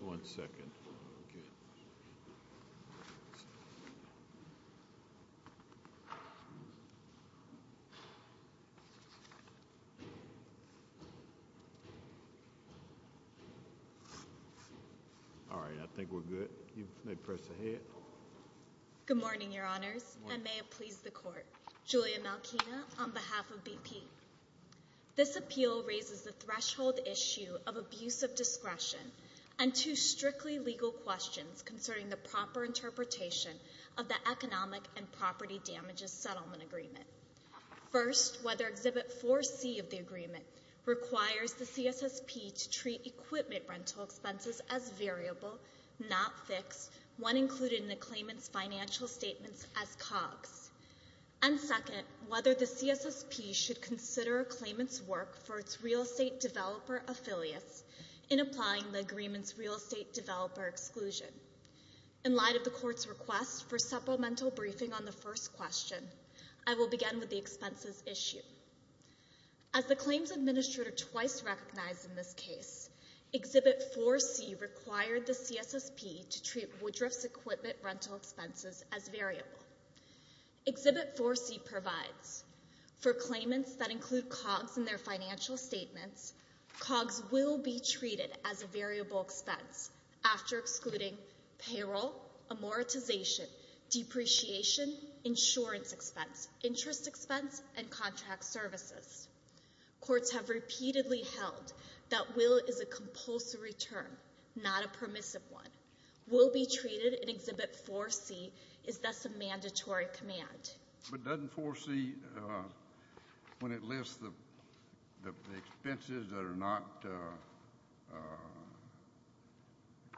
1 Good morning, Your Honors, and may it please the Court, Julia Malkina, on behalf of BP. This appeal raises the threshold issue of abuse of discretion and two strictly legal questions concerning the proper interpretation of the Economic and Property Damages Settlement Agreement. First, whether Exhibit 4C of the agreement requires the CSSP to treat equipment rental expenses as variable, not fixed, when included in the claimant's financial statements as COGS. And second, whether the CSSP should consider a claimant's work for its real estate developer affiliates in applying the agreement's real estate developer exclusion. In light of the Court's request for supplemental briefing on the first question, I will begin with the expenses issue. As the claims administrator twice recognized in this case, Exhibit 4C required the CSSP to treat Woodruff's equipment rental expenses as variable. Exhibit 4C provides, for claimants that include COGS in their financial statements, COGS will be treated as a variable expense after excluding payroll, amortization, depreciation, insurance expense, interest expense, and contract services. Courts have repeatedly held that will is a compulsory term, not a permissive one. Will be treated in Exhibit 4C is thus a mandatory command. But doesn't 4C, when it lists the expenses that are not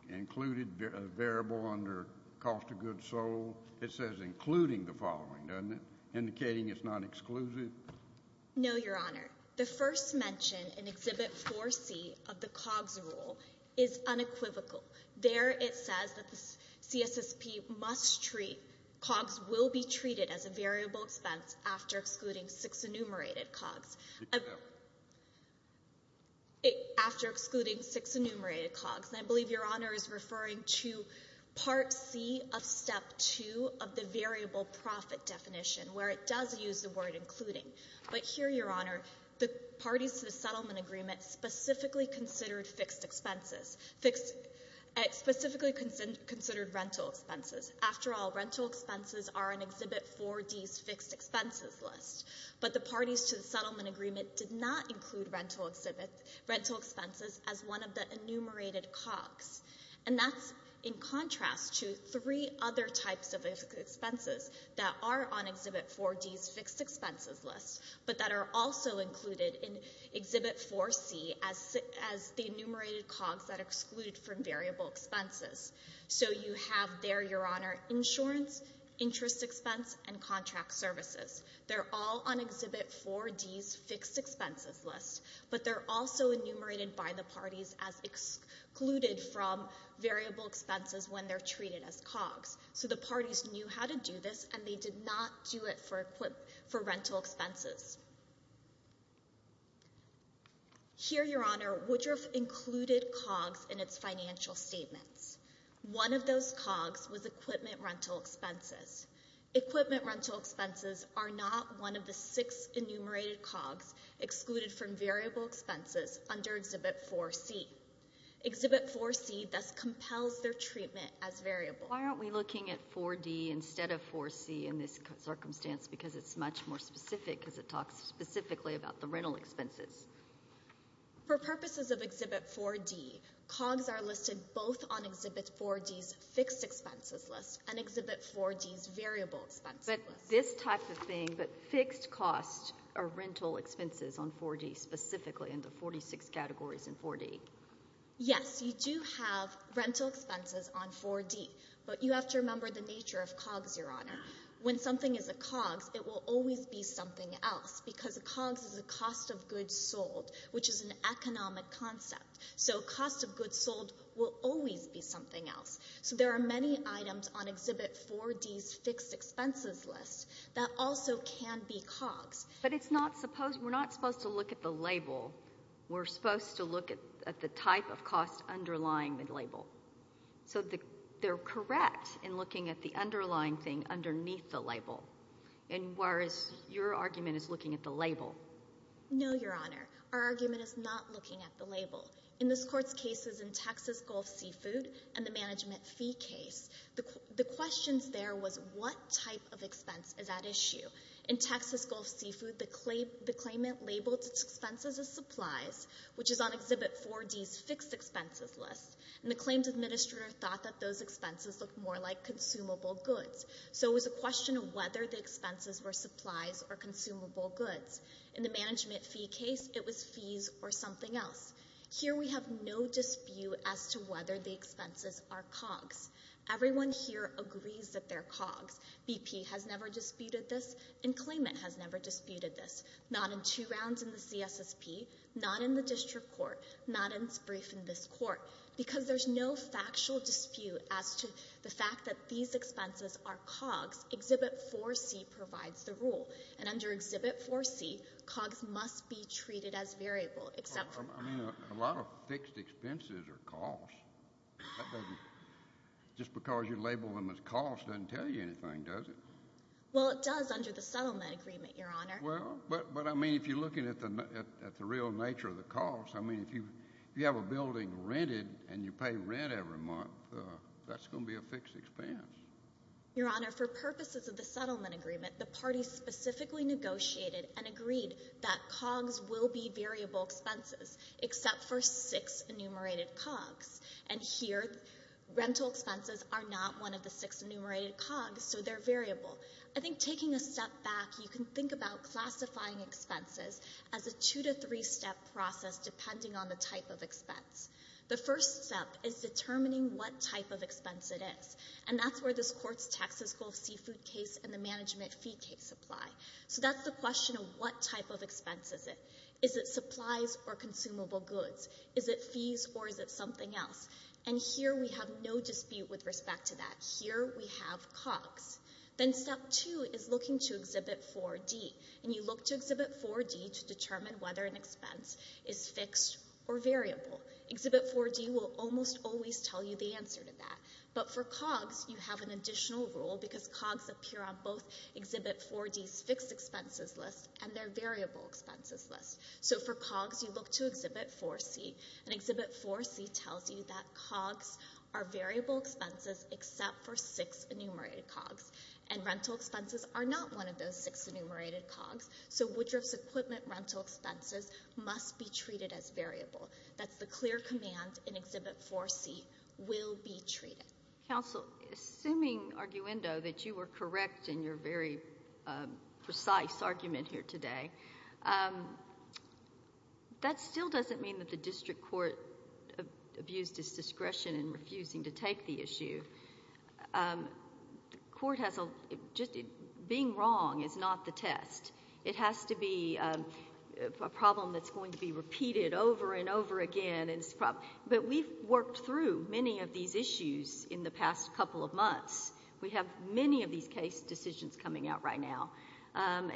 included, variable under cost of goods sold, it says including the following, doesn't it, indicating it's not exclusive? No, Your Honor. The first mention in Exhibit 4C of the COGS rule is unequivocal. There it says that the CSSP must treat, COGS will be treated as a variable expense after excluding six enumerated COGS. After excluding six enumerated COGS. And I believe Your Honor is referring to Part C of Step 2 of the variable profit definition where it does use the word including. But here, Your Honor, the parties to the settlement agreement specifically considered fixed expenses, specifically considered rental expenses. After all, rental expenses are in Exhibit 4D's fixed expenses list. But the parties to the settlement agreement did not include rental expenses as one of the enumerated COGS. And that's in contrast to three other types of expenses that are on Exhibit 4D's fixed expenses list but that are also included in Exhibit 4C as the enumerated COGS that exclude from variable expenses. So you have there, Your Honor, insurance, interest expense, and contract services. They're all on Exhibit 4D's fixed expenses list. But they're also enumerated by the parties as excluded from variable expenses when they're treated as COGS. So the parties knew how to do this and they did not do it for rental expenses. Here, Your Honor, Woodruff included COGS in its financial statements. One of those COGS was equipment rental expenses. Equipment rental expenses are not one of the six enumerated COGS excluded from variable expenses under Exhibit 4C. Exhibit 4C thus compels their treatment as variable. Why aren't we looking at 4D instead of 4C in this circumstance? Because it's much more specific because it talks specifically about the rental expenses. For purposes of Exhibit 4D, COGS are listed both on Exhibit 4D's fixed expenses list and on Exhibit 4D's variable expenses list. But this type of thing, but fixed costs are rental expenses on 4D specifically in the 46 categories in 4D. Yes, you do have rental expenses on 4D, but you have to remember the nature of COGS, Your Honor. When something is a COGS, it will always be something else because a COGS is a cost of goods sold, which is an economic concept. So cost of goods sold will always be something else. So there are many items on Exhibit 4D's fixed expenses list that also can be COGS. But it's not supposed, we're not supposed to look at the label. We're supposed to look at the type of cost underlying the label. So they're correct in looking at the underlying thing underneath the label, whereas your argument is looking at the label. No, Your Honor. Our argument is not looking at the label. In this Court's cases in Texas Gulf Seafood and the management fee case, the questions there was what type of expense is at issue. In Texas Gulf Seafood, the claimant labeled its expenses as supplies, which is on Exhibit 4D's fixed expenses list, and the claims administrator thought that those expenses looked more like consumable goods. So it was a question of whether the expenses were supplies or consumable goods. In the management fee case, it was fees or something else. Here we have no dispute as to whether the expenses are COGS. Everyone here agrees that they're COGS. BP has never disputed this, and claimant has never disputed this. Not in two rounds in the CSSP, not in the District Court, not in its brief in this Court. Because there's no factual dispute as to the fact that these expenses are COGS, Exhibit 4C provides the rule. And under Exhibit 4C, COGS must be treated as variable, except for— I mean, a lot of fixed expenses are costs. That doesn't—just because you label them as costs doesn't tell you anything, does it? Well, it does under the settlement agreement, Your Honor. Well, but I mean, if you're looking at the real nature of the costs, I mean, if you have a building rented and you pay rent every month, that's going to be a fixed expense. Your Honor, for purposes of the settlement agreement, the parties specifically negotiated and agreed that COGS will be variable expenses, except for six enumerated COGS. And here, rental expenses are not one of the six enumerated COGS, so they're variable. I think taking a step back, you can think about classifying expenses as a two- to three-step process depending on the type of expense. The first step is determining what type of expense it is. And that's where this Court's Texas Gulf Seafood case and the management fee case apply. So that's the question of what type of expense is it. Is it supplies or consumable goods? Is it fees or is it something else? And here we have no dispute with respect to that. Here we have COGS. Then step two is looking to Exhibit 4D, and you look to Exhibit 4D to determine whether an expense is fixed or variable. Exhibit 4D will almost always tell you the answer to that. But for COGS, you have an additional rule because COGS appear on both Exhibit 4D's fixed expenses list and their variable expenses list. So for COGS, you look to Exhibit 4C, and Exhibit 4C tells you that COGS are variable expenses except for six enumerated COGS. And rental expenses are not one of those six enumerated COGS. So Woodruff's Equipment rental expenses must be treated as variable. That's the clear command in Exhibit 4C, will be treated. Counsel, assuming, Arguendo, that you were correct in your very precise argument here today, that still doesn't mean that the district court abused its discretion in refusing to take the issue. The court has a... just being wrong is not the test. It has to be a problem that's going to be repeated over and over again, but we've worked through many of these issues in the past couple of months. We have many of these case decisions coming out right now, and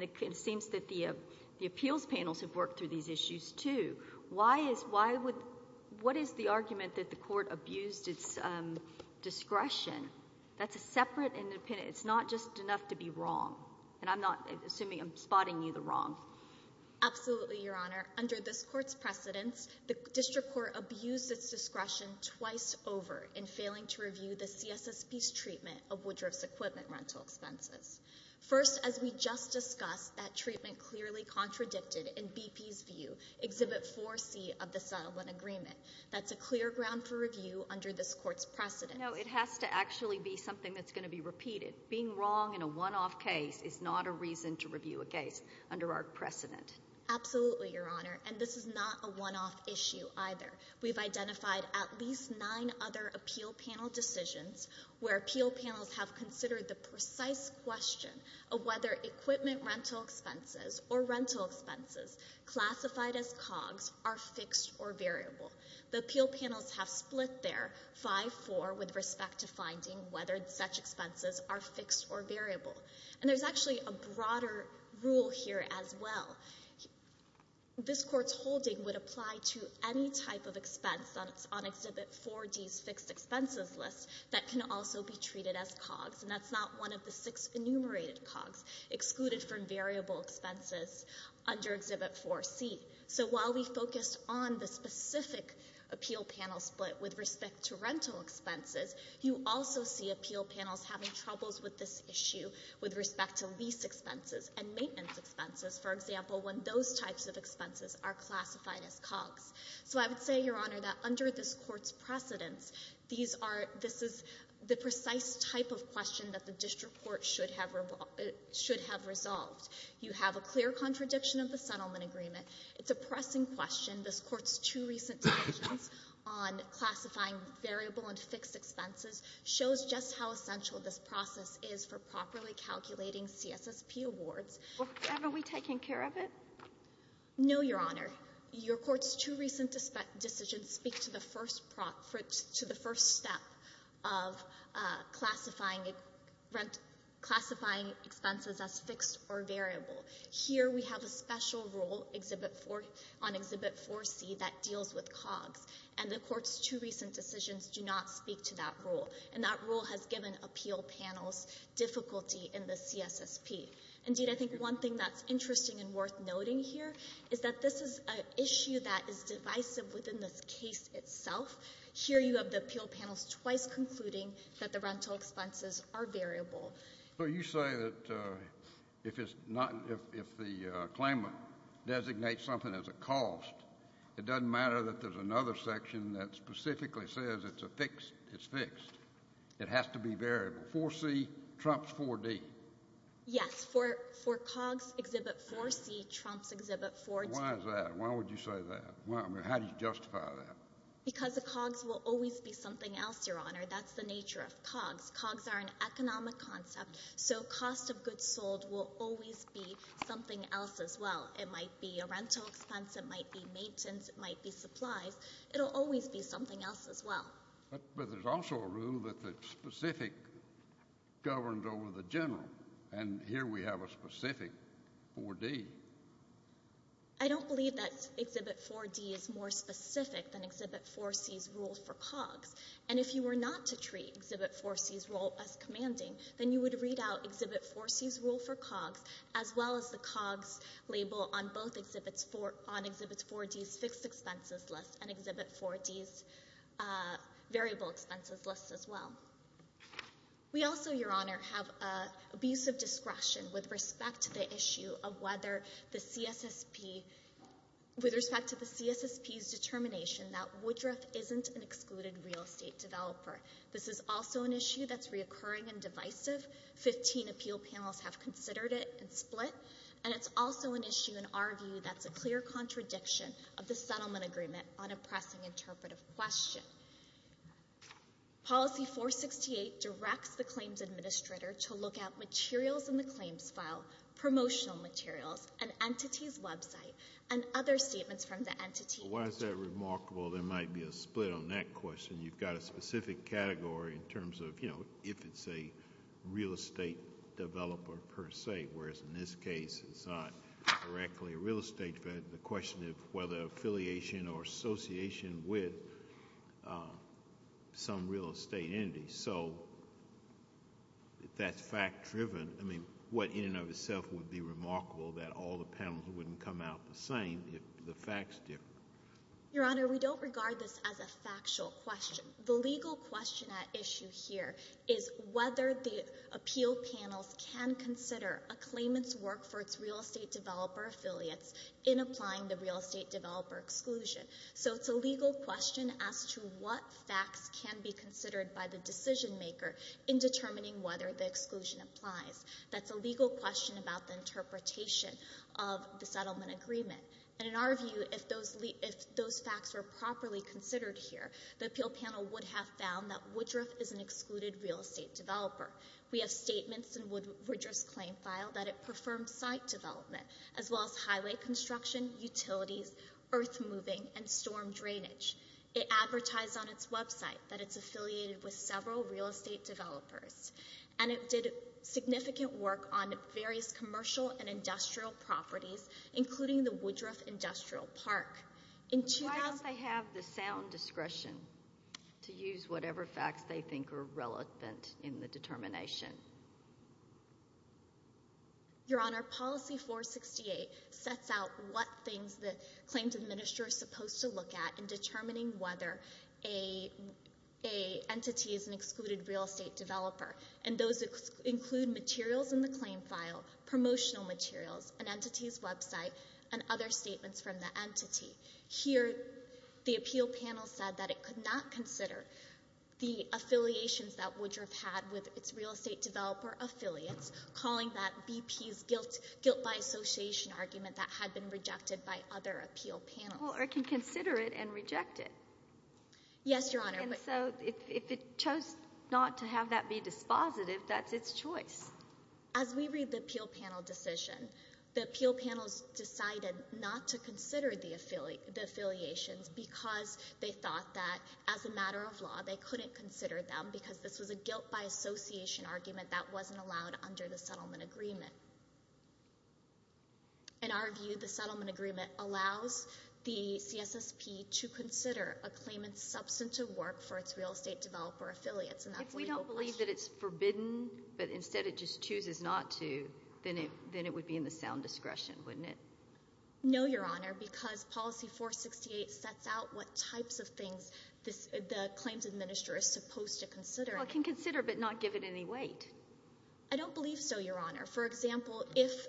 it seems that the appeals panels have worked through these issues too. Why is... what is the argument that the court abused its discretion? That's a separate independent... it's not just enough to be wrong. And I'm not... assuming I'm spotting you the wrong. Absolutely, Your Honor. Under this court's precedence, the district court abused its discretion twice over in failing to review the CSSP's treatment of Woodruff's Equipment rental expenses. First, as we just discussed, that treatment clearly contradicted, in BP's view, Exhibit 4C of the settlement agreement. That's a clear ground for review under this court's precedence. No, it has to actually be something that's going to be repeated. Being wrong in a one-off case is not a reason to review a case under our precedent. Absolutely, Your Honor, and this is not a one-off issue either. We've identified at least nine other appeal panel decisions where appeal panels have considered the precise question of whether equipment rental expenses or rental expenses classified as COGS are fixed or variable. The appeal panels have split their 5-4 with respect to finding whether such expenses are fixed or variable, and there's actually a broader rule here as well. This court's holding would apply to any type of expense on Exhibit 4D's fixed expenses list that can also be treated as COGS, and that's not one of the six enumerated COGS excluded from variable expenses under Exhibit 4C. So while we focused on the specific appeal panel split with respect to rental expenses, you also see appeal panels having troubles with this issue with respect to lease expenses and maintenance expenses, for example, when those types of expenses are classified as COGS. So I would say, Your Honor, that under this court's precedence, this is the precise type of question that the district court should have resolved. You have a clear contradiction of the settlement agreement. It's a pressing question. This court's two recent decisions on classifying variable and fixed expenses shows just how essential this process is for properly calculating CSSP awards. Have we taken care of it? No, Your Honor. Your court's two recent decisions speak to the first step of classifying expenses as fixed or variable. Here we have a special rule on Exhibit 4C that deals with COGS, and the court's two recent decisions do not speak to that rule. And that rule has given appeal panels difficulty in the CSSP. Indeed, I think one thing that's interesting and worth noting here is that this is an issue that is divisive within this case itself. Here you have the appeal panels twice concluding that the rental expenses are variable. So you say that if the claimant designates something as a cost, it doesn't matter that there's another section that specifically says it's fixed. It has to be variable. 4C trumps 4D. Yes, for COGS, Exhibit 4C trumps Exhibit 4D. Why is that? Why would you say that? I mean, how do you justify that? Because the COGS will always be something else, Your Honor. That's the nature of COGS. COGS are an economic concept, so cost of goods sold will always be something else as well. It might be a rental expense, it might be maintenance, it might be supplies. It'll always be something else as well. But there's also a rule that's specific, governed over the general. And here we have a specific 4D. I don't believe that Exhibit 4D is more specific than Exhibit 4C's rule for COGS. And if you were not to treat Exhibit 4C's rule as commanding, then you would read out Exhibit 4C's rule for COGS as well as the COGS label on both Exhibit 4D's fixed expenses list and Exhibit 4D's variable expenses list as well. We also, Your Honor, have an abuse of discretion with respect to the issue of whether the CSSP, with respect to the CSSP's determination that Woodruff isn't an excluded real estate developer. This is also an issue that's reoccurring and divisive. Fifteen appeal panels have considered it and split. And it's also an issue, in our view, that's a clear contradiction of the settlement agreement on a pressing interpretive question. Policy 468 directs the claims administrator to look at materials in the claims file, promotional materials, an entity's website, and other statements from the entity. Why is that remarkable? There might be a split on that question. You've got a specific category in terms of, you know, if it's a real estate developer per se, whereas in this case it's not directly a real estate developer. The question is whether affiliation or association with some real estate entity. So if that's fact-driven, I mean, what in and of itself would be remarkable that all the panels wouldn't come out the same if the facts differ? Your Honor, we don't regard this as a factual question. The legal question at issue here is whether the appeal panels can consider a claimant's work for its real estate developer affiliates in applying the real estate developer exclusion. So it's a legal question as to what facts can be considered by the decision maker in determining whether the exclusion applies. That's a legal question about the interpretation of the settlement agreement. And in our view, if those facts were properly considered here, the appeal panel would have found that Woodruff is an excluded real estate developer. We have statements in Woodruff's claim file that it performs site development, as well as highway construction, utilities, earth moving, and storm drainage. It advertised on its website that it's affiliated with several real estate developers. And it did significant work on various commercial and industrial properties, including the Woodruff Industrial Park. But why don't they have the sound discretion to use whatever facts they think are relevant in the determination? Your Honor, Policy 468 sets out what things the claims administrator is supposed to look at in determining whether an entity is an excluded real estate developer. And those include materials in the claim file, promotional materials, an entity's website, and other statements from the entity. Here, the appeal panel said that it could not consider the affiliations that Woodruff had with its real estate developer. Affiliates calling that BP's guilt by association argument that had been rejected by other appeal panels. Well, or it can consider it and reject it. Yes, Your Honor. And so if it chose not to have that be dispositive, that's its choice. As we read the appeal panel decision, the appeal panels decided not to consider the affiliations because they thought that as a matter of law, they couldn't consider them because this was a guilt by association argument that wasn't allowed under the settlement agreement. In our view, the settlement agreement allows the CSSP to consider a claimant's substantive work for its real estate developer affiliates. If we don't believe that it's forbidden, but instead it just chooses not to, then it would be in the sound discretion, wouldn't it? No, Your Honor, because Policy 468 sets out what types of things the claims administrator is supposed to consider. Well, it can consider but not give it any weight. I don't believe so, Your Honor. For example, if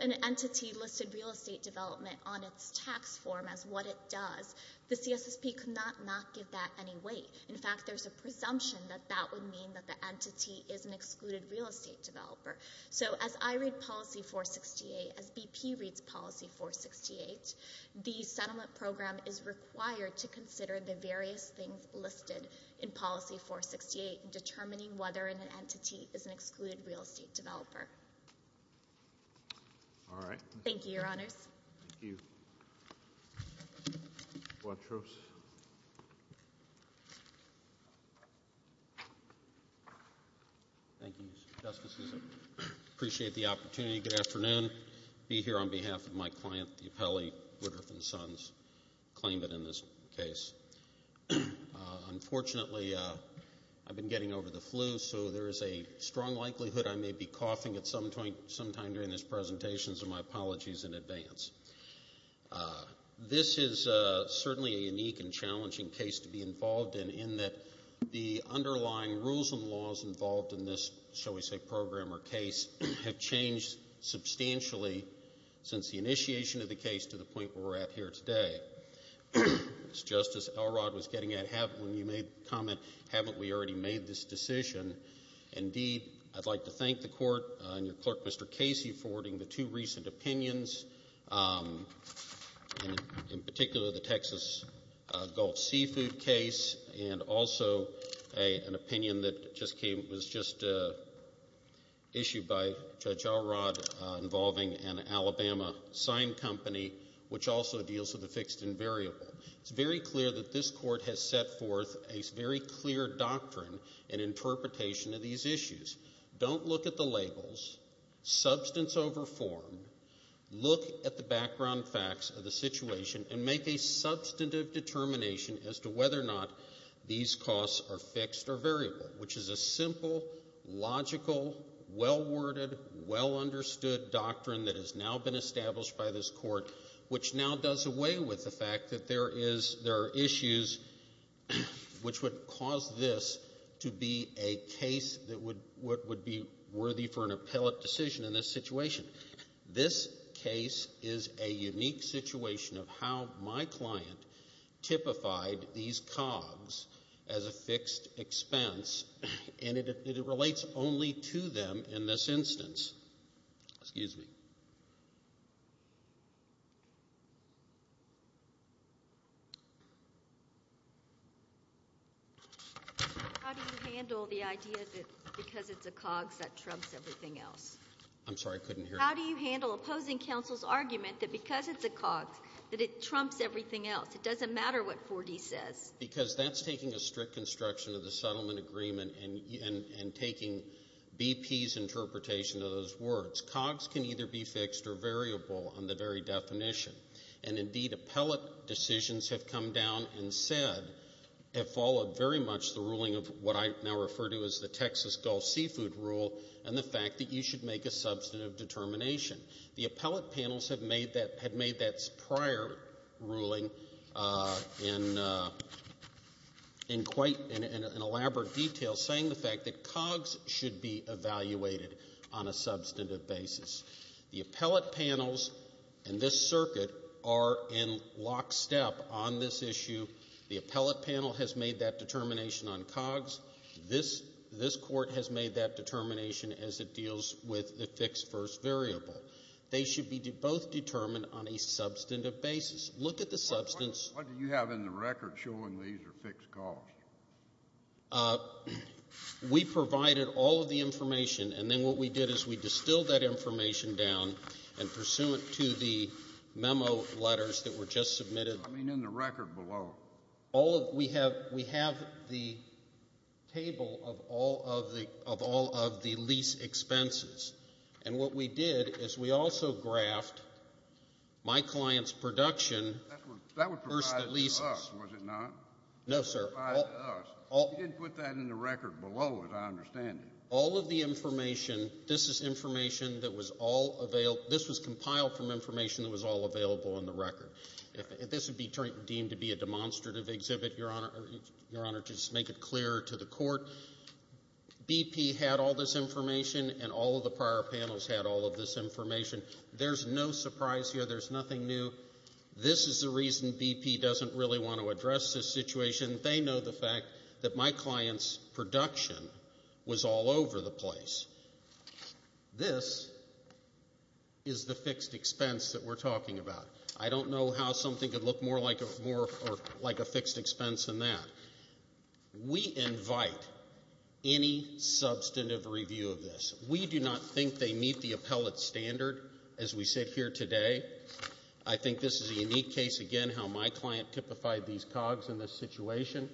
an entity listed real estate development on its tax form as what it does, the CSSP could not not give that any weight. In fact, there's a presumption that that would mean that the entity is an excluded real estate developer. So as I read Policy 468, as BP reads Policy 468, the settlement program is required to consider the various things listed in Policy 468 in determining whether an entity is an excluded real estate developer. All right. Thank you, Your Honors. Thank you. Thank you, Mr. Justice. Appreciate the opportunity. Good afternoon. Be here on behalf of my client, the appellee, Rutherford & Sons claimant in this case. Unfortunately, I've been getting over the flu, so there is a strong likelihood I may be coughing at some point sometime during this presentation, so my apologies in advance. This is certainly a unique and challenging case to be involved in, in that the underlying rules and laws involved in this, shall we say, program or case have changed substantially since the initiation of the case to the point where we're at here today. As Justice Elrod was getting at when you made the comment, haven't we already made this decision? Indeed, I'd like to thank the Court and your clerk, Mr. Casey, for wording the two recent opinions, in particular the Texas Gulf Seafood case, and also an opinion that was just issued by Judge Elrod, involving an Alabama sign company, which also deals with the fixed-end variable. It's very clear that this Court has set forth a very clear doctrine and interpretation of these issues. Don't look at the labels. Substance over form. Look at the background facts of the situation and make a substantive determination as to whether or not these costs are fixed or variable, which is a simple, logical, well-worded, well-understood doctrine that has now been established by this Court, which now does away with the fact that there are issues which would cause this to be a case that would be worthy for an appellate decision in this situation. This case is a unique situation of how my client typified these COGS as a fixed expense, and it relates only to them in this instance. Excuse me. How do you handle the idea that because it's a COGS, that trumps everything else? I'm sorry. I couldn't hear. How do you handle opposing counsel's argument that because it's a COGS, that it trumps everything else? It doesn't matter what 4D says. Because that's taking a strict construction of the settlement agreement and taking BP's interpretation of those words. COGS can either be fixed or variable on the very definition, and indeed, appellate decisions have come down and said, have followed very much the ruling of what I now refer to as the Texas Gulf Seafood Rule and the fact that you should make a substantive determination. The appellate panels had made that prior ruling in quite an elaborate detail, saying the fact that COGS should be evaluated on a substantive basis. The appellate panels and this circuit are in lockstep on this issue. The appellate panel has made that determination on COGS. This court has made that determination as it deals with the fixed first variable. They should be both determined on a substantive basis. Look at the substance. What do you have in the record showing these are fixed costs? We provided all of the information, and then what we did is we distilled that information down and pursuant to the memo letters that were just submitted. I mean in the record below. We have the table of all of the lease expenses, and what we did is we also graphed my client's production versus the leases. That was provided to us, was it not? No, sir. It was provided to us. You didn't put that in the record below as I understand it. All of the information, this is information that was all available. This was compiled from information that was all available in the record. This would be deemed to be a demonstrative exhibit, Your Honor, to just make it clear to the court. BP had all this information, and all of the prior panels had all of this information. There's no surprise here. There's nothing new. This is the reason BP doesn't really want to address this situation. They know the fact that my client's production was all over the place. This is the fixed expense that we're talking about. I don't know how something could look more like a fixed expense than that. We invite any substantive review of this. We do not think they meet the appellate standard as we sit here today. I think this is a unique case. Again, how my client typified these cogs in this situation,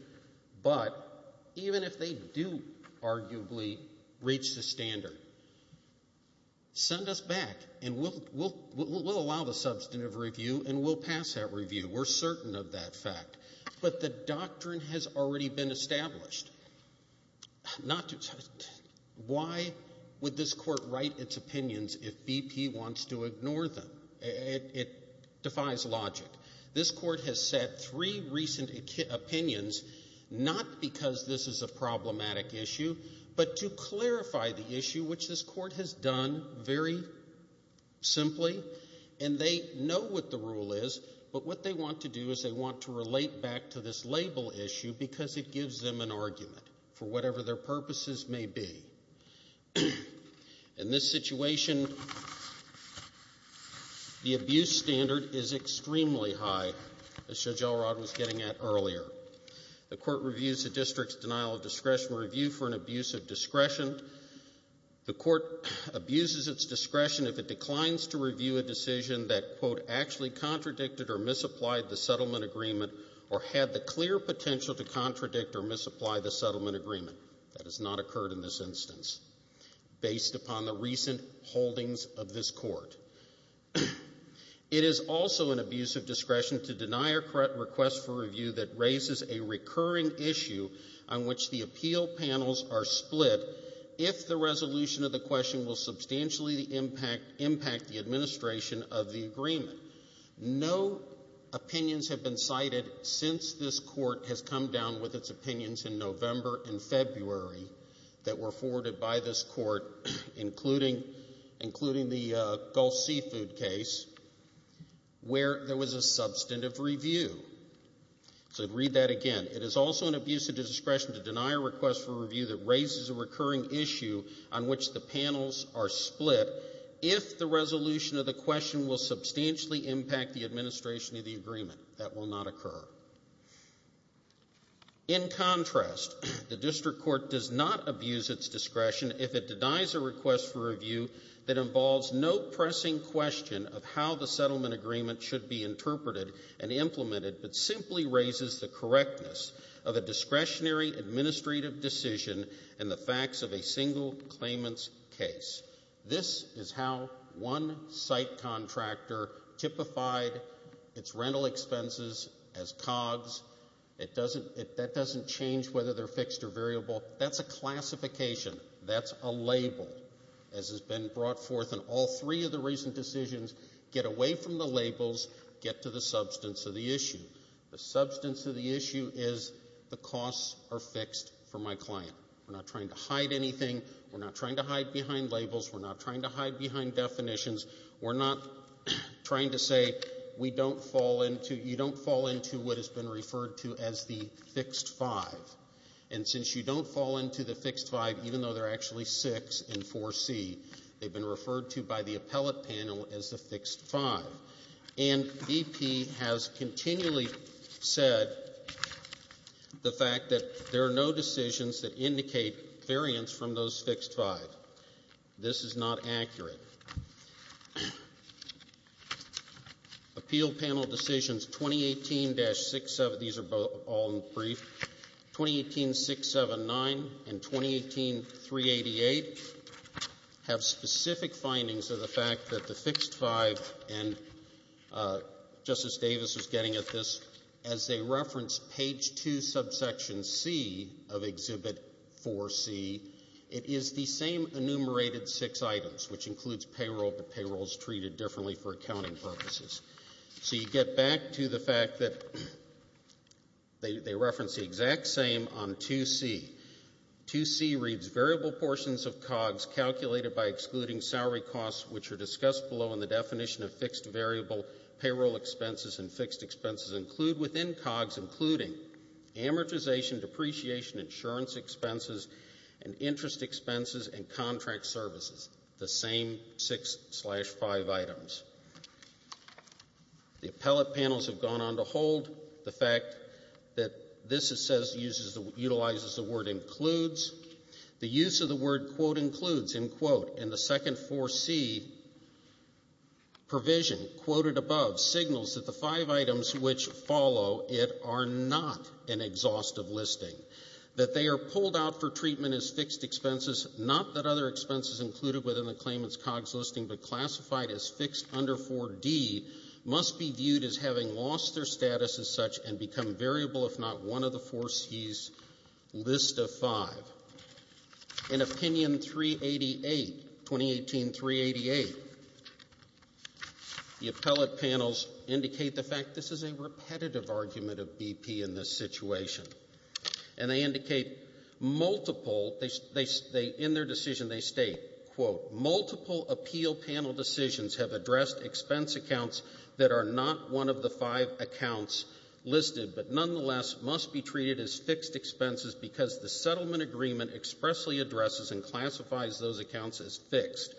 but even if they do arguably reach the standard, send us back, and we'll allow the substantive review, and we'll pass that review. We're certain of that fact. But the doctrine has already been established. Why would this court write its opinions if BP wants to ignore them? It defies logic. This court has set three recent opinions, not because this is a problematic issue, but to clarify the issue, which this court has done very simply, and they know what the rule is, but what they want to do is they want to relate back to this label issue because it gives them an argument for whatever their purposes may be. In this situation, the abuse standard is extremely high, as Judge Elrod was getting at earlier. The court reviews the district's denial of discretion review for an abuse of discretion. The court abuses its discretion if it declines to review a decision that, quote, actually contradicted or misapplied the settlement agreement or had the clear potential to contradict or misapply the settlement agreement. That has not occurred in this instance, based upon the recent holdings of this court. It is also an abuse of discretion to deny a request for review that raises a recurring issue on which the appeal panels are split if the resolution of the question will substantially impact the administration of the agreement. No opinions have been cited since this court has come down with its opinions in November and February that were forwarded by this court, including the Gulf seafood case, where there was a substantive review. So I'd read that again. It is also an abuse of discretion to deny a request for review that raises a recurring issue on which the panels are split if the resolution of the question will substantially impact the administration of the agreement. That will not occur. In contrast, the district court does not abuse its discretion if it denies a request for review that involves no pressing question of how the settlement agreement should be interpreted and implemented, but simply raises the correctness of a discretionary administrative decision and the facts of a single claimant's case. This is how one site contractor typified its rental expenses as COGS. That doesn't change whether they're fixed or variable. That's a classification. That's a label, as has been brought forth in all three of the recent decisions. Get away from the labels. Get to the substance of the issue. The substance of the issue is the costs are fixed for my client. We're not trying to hide anything. We're not trying to hide behind labels. We're not trying to hide behind definitions. We're not trying to say we don't fall into, you don't fall into what has been referred to as the fixed five. And since you don't fall into the fixed five, even though they're actually six in 4C, they've been referred to by the appellate panel as the fixed five. And BP has continually said the fact that there are no decisions that indicate variance from those fixed five. This is not accurate. Appeal panel decisions 2018-67, these are all in brief, 2018-679 and 2018-388 have specific findings of the fact that the fixed five, and Justice Davis is getting at this, as they reference page two, subsection C of exhibit 4C, it is the same enumerated six items, which includes payroll, but payroll is treated differently for accounting purposes. So you get back to the fact that they reference the exact same on 2C. 2C reads variable portions of COGS calculated by excluding salary costs, which are discussed below in the definition of fixed variable payroll expenses. And fixed expenses include within COGS, including amortization, depreciation, insurance expenses, and interest expenses and contract services. The same six slash five items. The appellate panels have gone on to hold the fact that this utilizes the word includes. The use of the word quote includes in quote in the second 4C provision quoted above signals that the five items which follow it are not an exhaustive listing. That they are pulled out for treatment as fixed expenses, not that other expenses included within the claimant's COGS listing, but classified as fixed under 4D must be viewed as having lost their status as such and become variable if not one of the 4C's list of five. In opinion 388, 2018-388, the appellate panels indicate the fact this is a repetitive argument of BP in this situation. And they indicate multiple, in their decision they state quote, multiple appeal panel decisions have addressed expense accounts that are not one of the five accounts listed, but nonetheless must be treated as fixed expenses because the settlement agreement expressly addresses and classifies those accounts as fixed.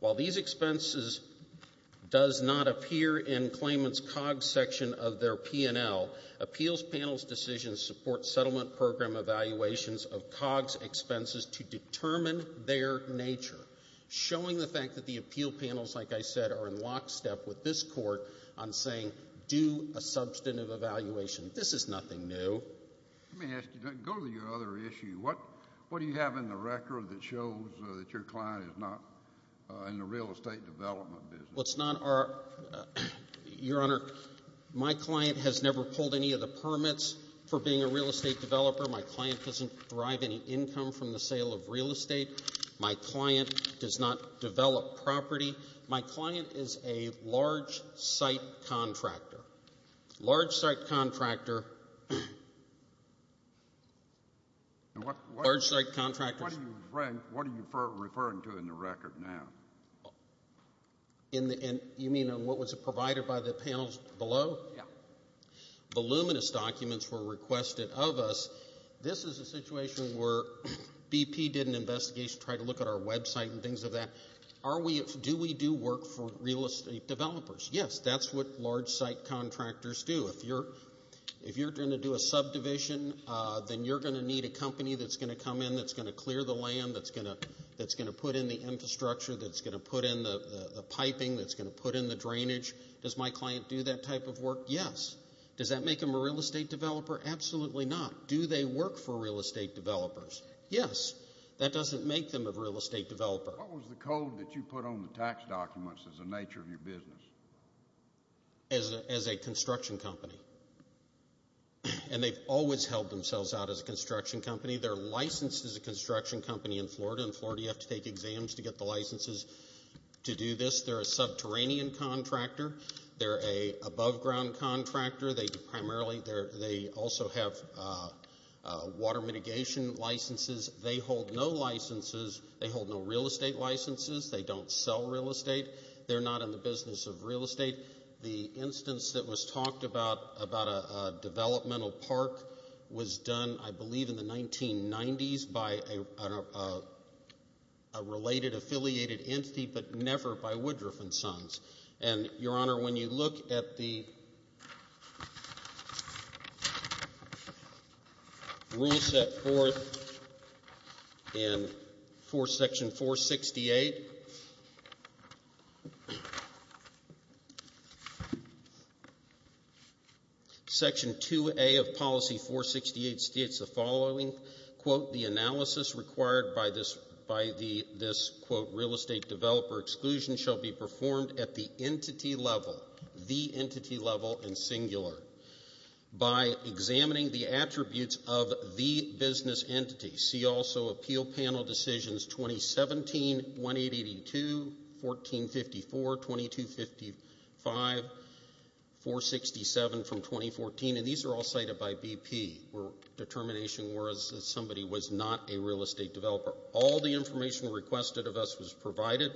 While these expenses does not appear in claimant's COGS section of their P&L, appeals panel's decisions support settlement program evaluations of COGS expenses to determine their nature. Showing the fact that the appeal panels, like I said, are in lockstep with this court on saying do a substantive evaluation. This is nothing new. Let me ask you, go to your other issue. What do you have in the record that shows that your client is not in the real estate development business? It's not our, Your Honor, my client has never pulled any of the permits for being a real estate developer. My client doesn't derive any income from the sale of real estate. My client does not develop property. My client is a large site contractor. Large site contractor. Large site contractor. What are you referring to in the record now? In the, you mean on what was provided by the panels below? Yeah. Voluminous documents were requested of us. This is a situation where BP did an investigation, tried to look at our website and things of that. Are we, do we do work for real estate developers? Yes, that's what large site contractors do. If you're going to do a subdivision, then you're going to need a company that's going to come in, that's going to clear the land, that's going to put in the infrastructure, that's going to put in the piping, that's going to put in the drainage. Does my client do that type of work? Yes. Does that make them a real estate developer? Absolutely not. Do they work for real estate developers? Yes. That doesn't make them a real estate developer. What was the code that you put on the tax documents as a nature of your business? As a construction company. And they've always held themselves out as a construction company. They're licensed as a construction company in Florida. In Florida, you have to take exams to get the licenses to do this. They're a subterranean contractor. They're a above ground contractor. They primarily, they also have water mitigation licenses. They hold no licenses. They hold no real estate licenses. They don't sell real estate. They're not in the business of real estate. The instance that was talked about, about a developmental park, was done, I believe, in the 1990s by a related, affiliated entity, but never by Woodruff and Sons. And, Your Honor, when you look at the rule set forth in Section 468, Section 2A of Policy 468 states the following, quote, the analysis required by this, quote, real estate developer exclusion shall be performed at the entity level, the entity level in singular, by examining the attributes of the business entity. See also appeal panel decisions 2017-1882, 1454, 2255, 467 from 2014, and these are all cited by BP, where determination was that somebody was not a real estate developer. All the information requested of us was provided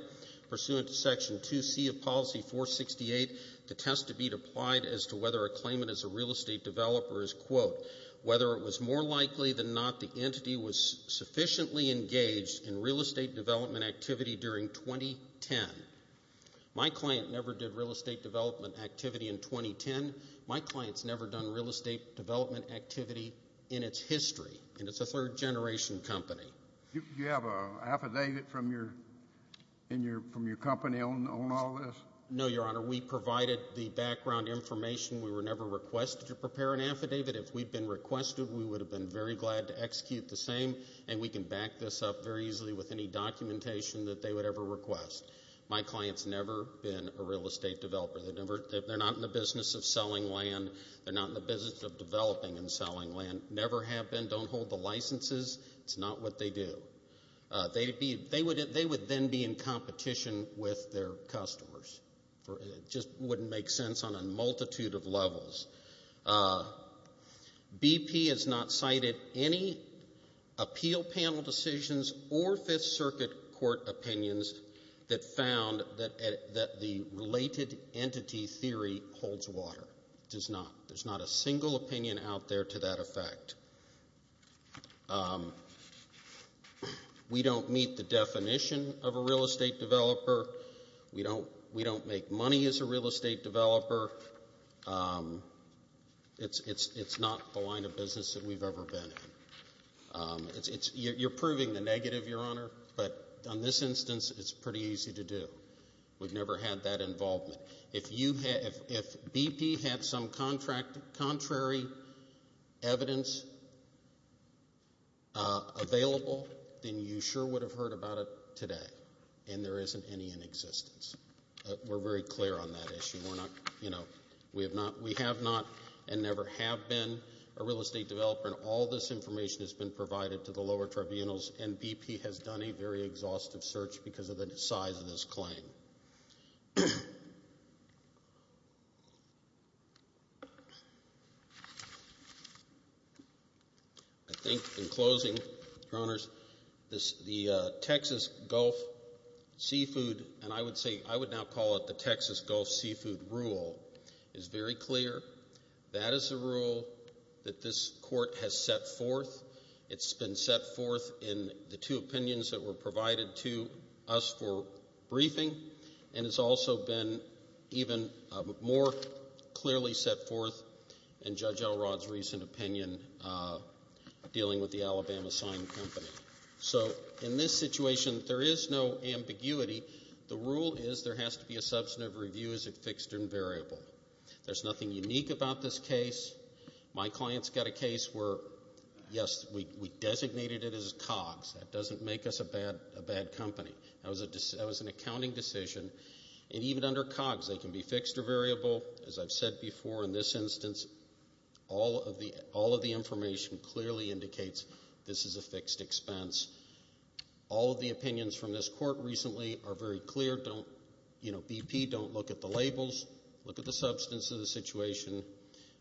pursuant to Section 2C of Policy 468 to test to be applied as to whether a claimant is a real estate developer is, quote, whether it was more likely than not the entity was sufficiently engaged in real estate development activity during 2010. My client never did real estate development activity in 2010. My client's never done real estate development activity in its history, and it's a third-generation company. You have an affidavit from your company on all this? No, Your Honor. We provided the background information. We were never requested to prepare an affidavit. If we'd been requested, we would have been very glad to execute the same, and we can back this up very easily with any documentation that they would ever request. My client's never been a real estate developer. They're not in the business of selling land. They're not in the business of developing and selling land. Never have been. Don't hold the licenses. It's not what they do. They would then be in competition with their customers. It just wouldn't make sense on a multitude of levels. BP has not cited any appeal panel decisions or Fifth Circuit court opinions that found that the related entity theory holds water. It does not. There's not a single opinion out there to that effect. We don't meet the definition of a real estate developer. We don't make money as a real estate developer. It's not the line of business that we've ever been in. You're proving the negative, Your Honor, but on this instance, it's pretty easy to do. We've never had that involvement. If BP had some contrary evidence, if it was available, then you sure would have heard about it today. And there isn't any in existence. We're very clear on that issue. We have not and never have been a real estate developer. And all this information has been provided to the lower tribunals. And BP has done a very exhaustive search because of the size of this claim. I think in closing, Your Honors, the Texas Gulf Seafood, and I would say I would now call it the Texas Gulf Seafood rule, is very clear. That is a rule that this court has set forth. It's been set forth in the two opinions that were provided to us for briefing. And it's also been even more clearly set forth in Judge Elrod's recent opinion dealing with the Alabama Sign Company. So in this situation, there is no ambiguity. The rule is there has to be a substantive review is it fixed and variable. There's nothing unique about this case. My client's got a case where, yes, we designated it as COGS. That doesn't make us a bad company. That was an accounting decision. And even under COGS, they can be fixed or variable. As I've said before, in this instance, all of the information clearly indicates this is a fixed expense. All of the opinions from this court recently are very clear. Don't, you know, BP, don't look at the labels. Look at the substance of the situation.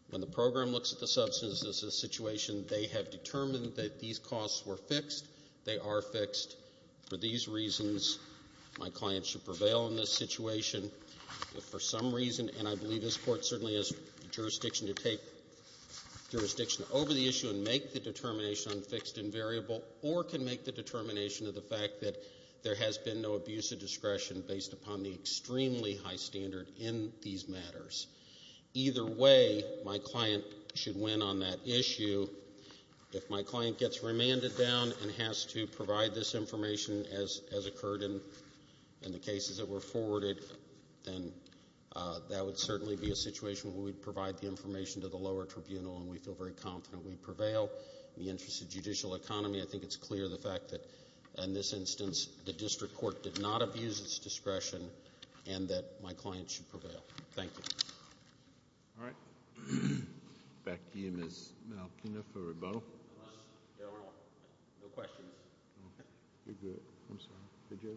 When the program looks at the substance of the situation, they have determined that these costs were fixed. They are fixed for these reasons. My client should prevail in this situation. For some reason, and I believe this court certainly has jurisdiction to take jurisdiction over the issue and make the determination on fixed and variable, or can make the determination of the fact that there has been no abuse of discretion based upon the extremely high standard in these matters. Either way, my client should win on that issue. If my client gets remanded down and has to provide this information as occurred in the cases that were forwarded, then that would certainly be a situation where we'd provide the information to the lower tribunal, and we'd feel very confident we'd prevail in the interest of judicial economy. I think it's clear, the fact that in this instance, the district court did not abuse its discretion and that my client should prevail. Thank you. All right. Back to you, Ms. Malkina for rebuttal. No questions. You're good. I'm sorry.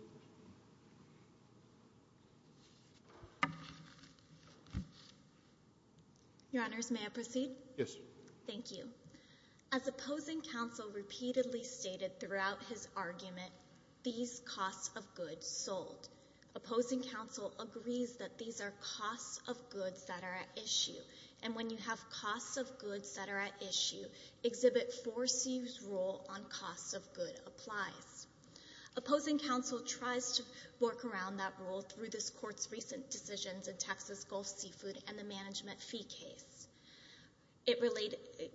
Your honors, may I proceed? Yes. Thank you. As opposing counsel repeatedly stated throughout his argument, these costs of goods sold. Opposing counsel agrees that these are costs of goods that are at issue. And when you have costs of goods that are at issue, exhibit 4C's rule on costs of good applies. Opposing counsel tries to work around that rule through this court's recent decisions in Texas Gulf Seafood and the management fee case.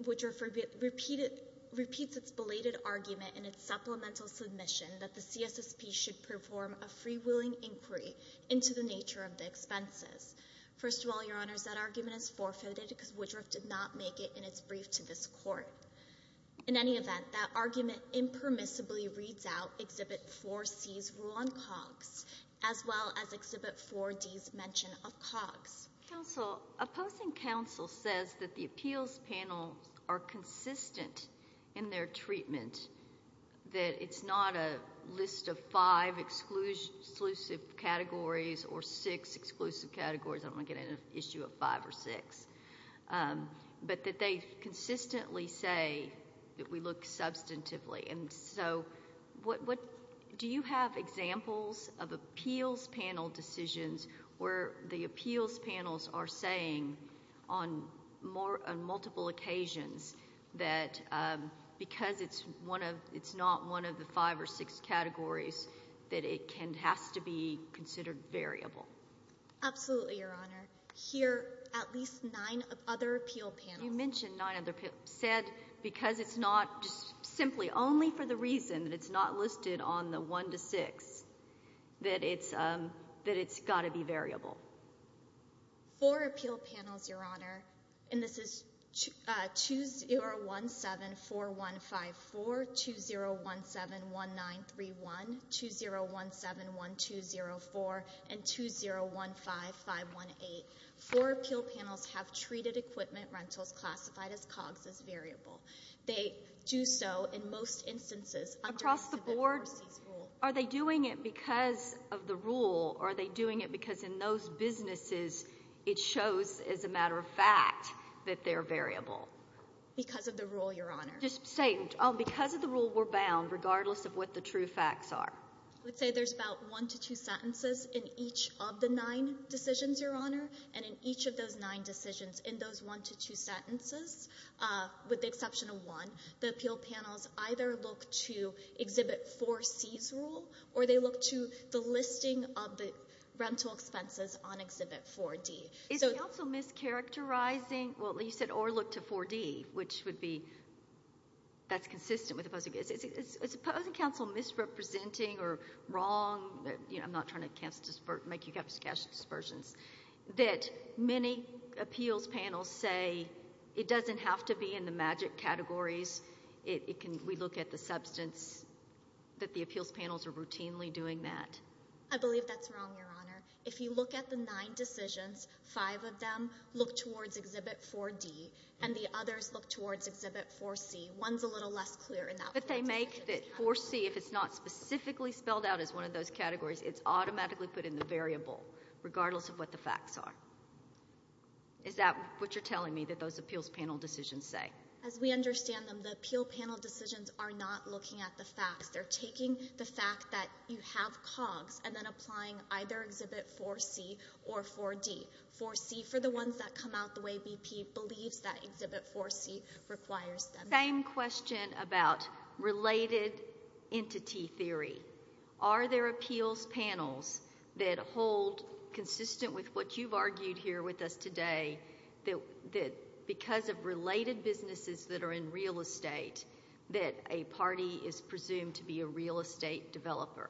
Woodruff repeats its belated argument in its supplemental submission that the CSSP should perform a freewheeling inquiry into the nature of the expenses. First of all, your honors, that argument is forfeited because Woodruff did not make it in its brief to this court. In any event, that argument impermissibly reads out as well as exhibit 4D's mention of COGS. Counsel, opposing counsel says that the appeals panel are consistent in their treatment, that it's not a list of five exclusive categories or six exclusive categories. I'm going to get into an issue of five or six. But that they consistently say that we look substantively. And so do you have examples of appeals panel decisions where the appeals panels are saying on multiple occasions that because it's not one of the five or six categories that it has to be considered variable? Absolutely, your honor. Here, at least nine of other appeal panels. You mentioned nine other appeals. Said because it's not just simply only for the reason that it's not listed on the one to six, that it's got to be variable. Four appeal panels, your honor. And this is 20174154, 20171931, 20171204, and 201518. Four appeal panels have treated equipment rentals classified as COGS as variable. They do so in most instances. Across the board, are they doing it because of the rule? Are they doing it because in those businesses, it shows as a matter of fact that they're variable? Because of the rule, your honor. Just say, because of the rule, we're bound, regardless of what the true facts are. I would say there's about one to two sentences in each of the nine decisions, your honor. And in each of those nine decisions, in those one to two sentences, with the exception of one, the appeal panels either look to Exhibit 4C's rule, or they look to the listing of the rental expenses on Exhibit 4D. Is counsel mischaracterizing? Well, you said, or look to 4D, which would be, that's consistent with opposing. Is opposing counsel misrepresenting or wrong? I'm not trying to make you catch dispersions. That many appeals panels say, it doesn't have to be in the magic categories. We look at the substance, that the appeals panels are routinely doing that. I believe that's wrong, your honor. If you look at the nine decisions, five of them look towards Exhibit 4D, and the others look towards Exhibit 4C. One's a little less clear in that one. But they make that 4C, if it's not specifically spelled out as one of those categories, it's automatically put in the variable, regardless of what the facts are. Is that what you're telling me, that those appeals panel decisions say? As we understand them, the appeal panel decisions are not looking at the facts. They're taking the fact that you have COGS, and then applying either Exhibit 4C or 4D. 4C, for the ones that come out the way BP believes, that Exhibit 4C requires them. Same question about related entity theory. Are there appeals panels that hold consistent with what you've argued here with us today, that because of related businesses that are in real estate, that a party is presumed to be a real estate developer?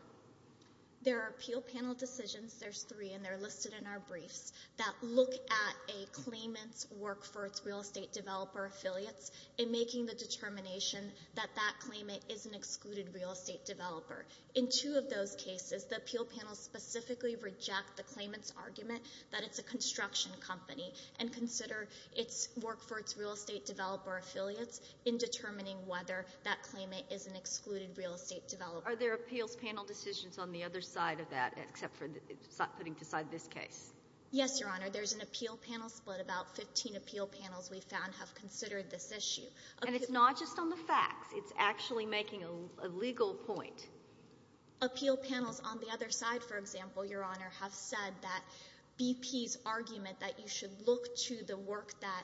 There are appeal panel decisions, there's three, and they're listed in our briefs, that look at a claimant's work for its real estate developer affiliates, and making the determination that that claimant is an excluded real estate developer. In two of those cases, the appeal panel specifically reject the claimant's argument that it's a construction company, and consider its work for its real estate developer affiliates in determining whether that claimant is an excluded real estate developer. Are there appeals panel decisions on the other side of that, except for putting aside this case? Yes, Your Honor. There's an appeal panel split, about 15 appeal panels we found have considered this issue. And it's not just on the facts, it's actually making a legal point. Appeal panels on the other side, for example, Your Honor, have said that BP's argument that you should look to the work that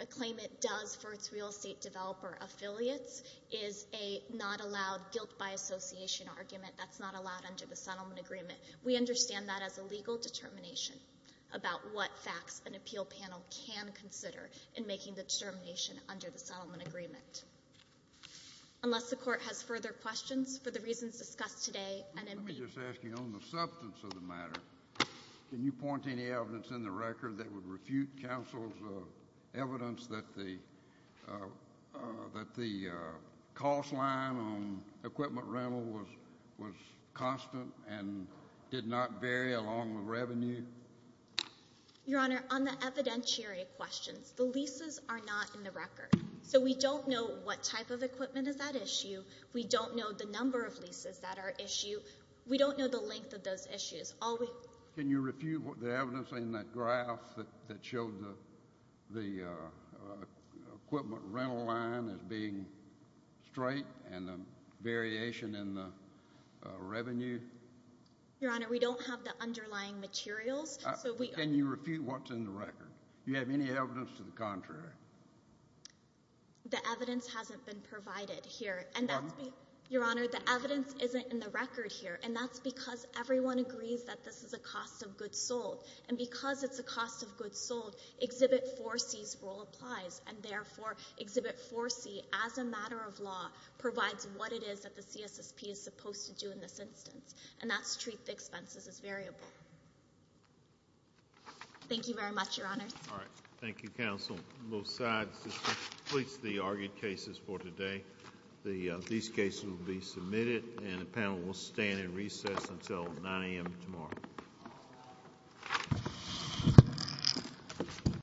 a claimant does for its real estate developer affiliates is a not allowed guilt by association argument that's not allowed under the settlement agreement. We understand that as a legal determination about what facts an appeal panel can consider in making the determination under the settlement agreement. Unless the court has further questions for the reasons discussed today, NMB. Let me just ask you, on the substance of the matter, can you point to any evidence in the record that would refute counsel's evidence that the cost line on equipment rental was constant and did not vary along with revenue? Your Honor, on the evidentiary questions, the leases are not in the record. So we don't know what type of equipment is that issue. We don't know the number of leases that are issue. We don't know the length of those issues. Can you refute the evidence in that graph that showed the equipment rental line as being straight and the variation in the revenue? Your Honor, we don't have the underlying materials. Can you refute what's in the record? Do you have any evidence to the contrary? The evidence hasn't been provided here. Pardon? Your Honor, the evidence isn't in the record here. And that's because everyone agrees that this is a cost of goods sold. And because it's a cost of goods sold, Exhibit 4C's role applies. And therefore, Exhibit 4C, as a matter of law, provides what it is that the CSSP is supposed to do in this instance. And that's treat the expenses as variable. Thank you very much, Your Honor. All right. Thank you, counsel. Both sides, this completes the argued cases for today. These cases will be submitted. And the panel will stand in recess until 9 a.m. tomorrow.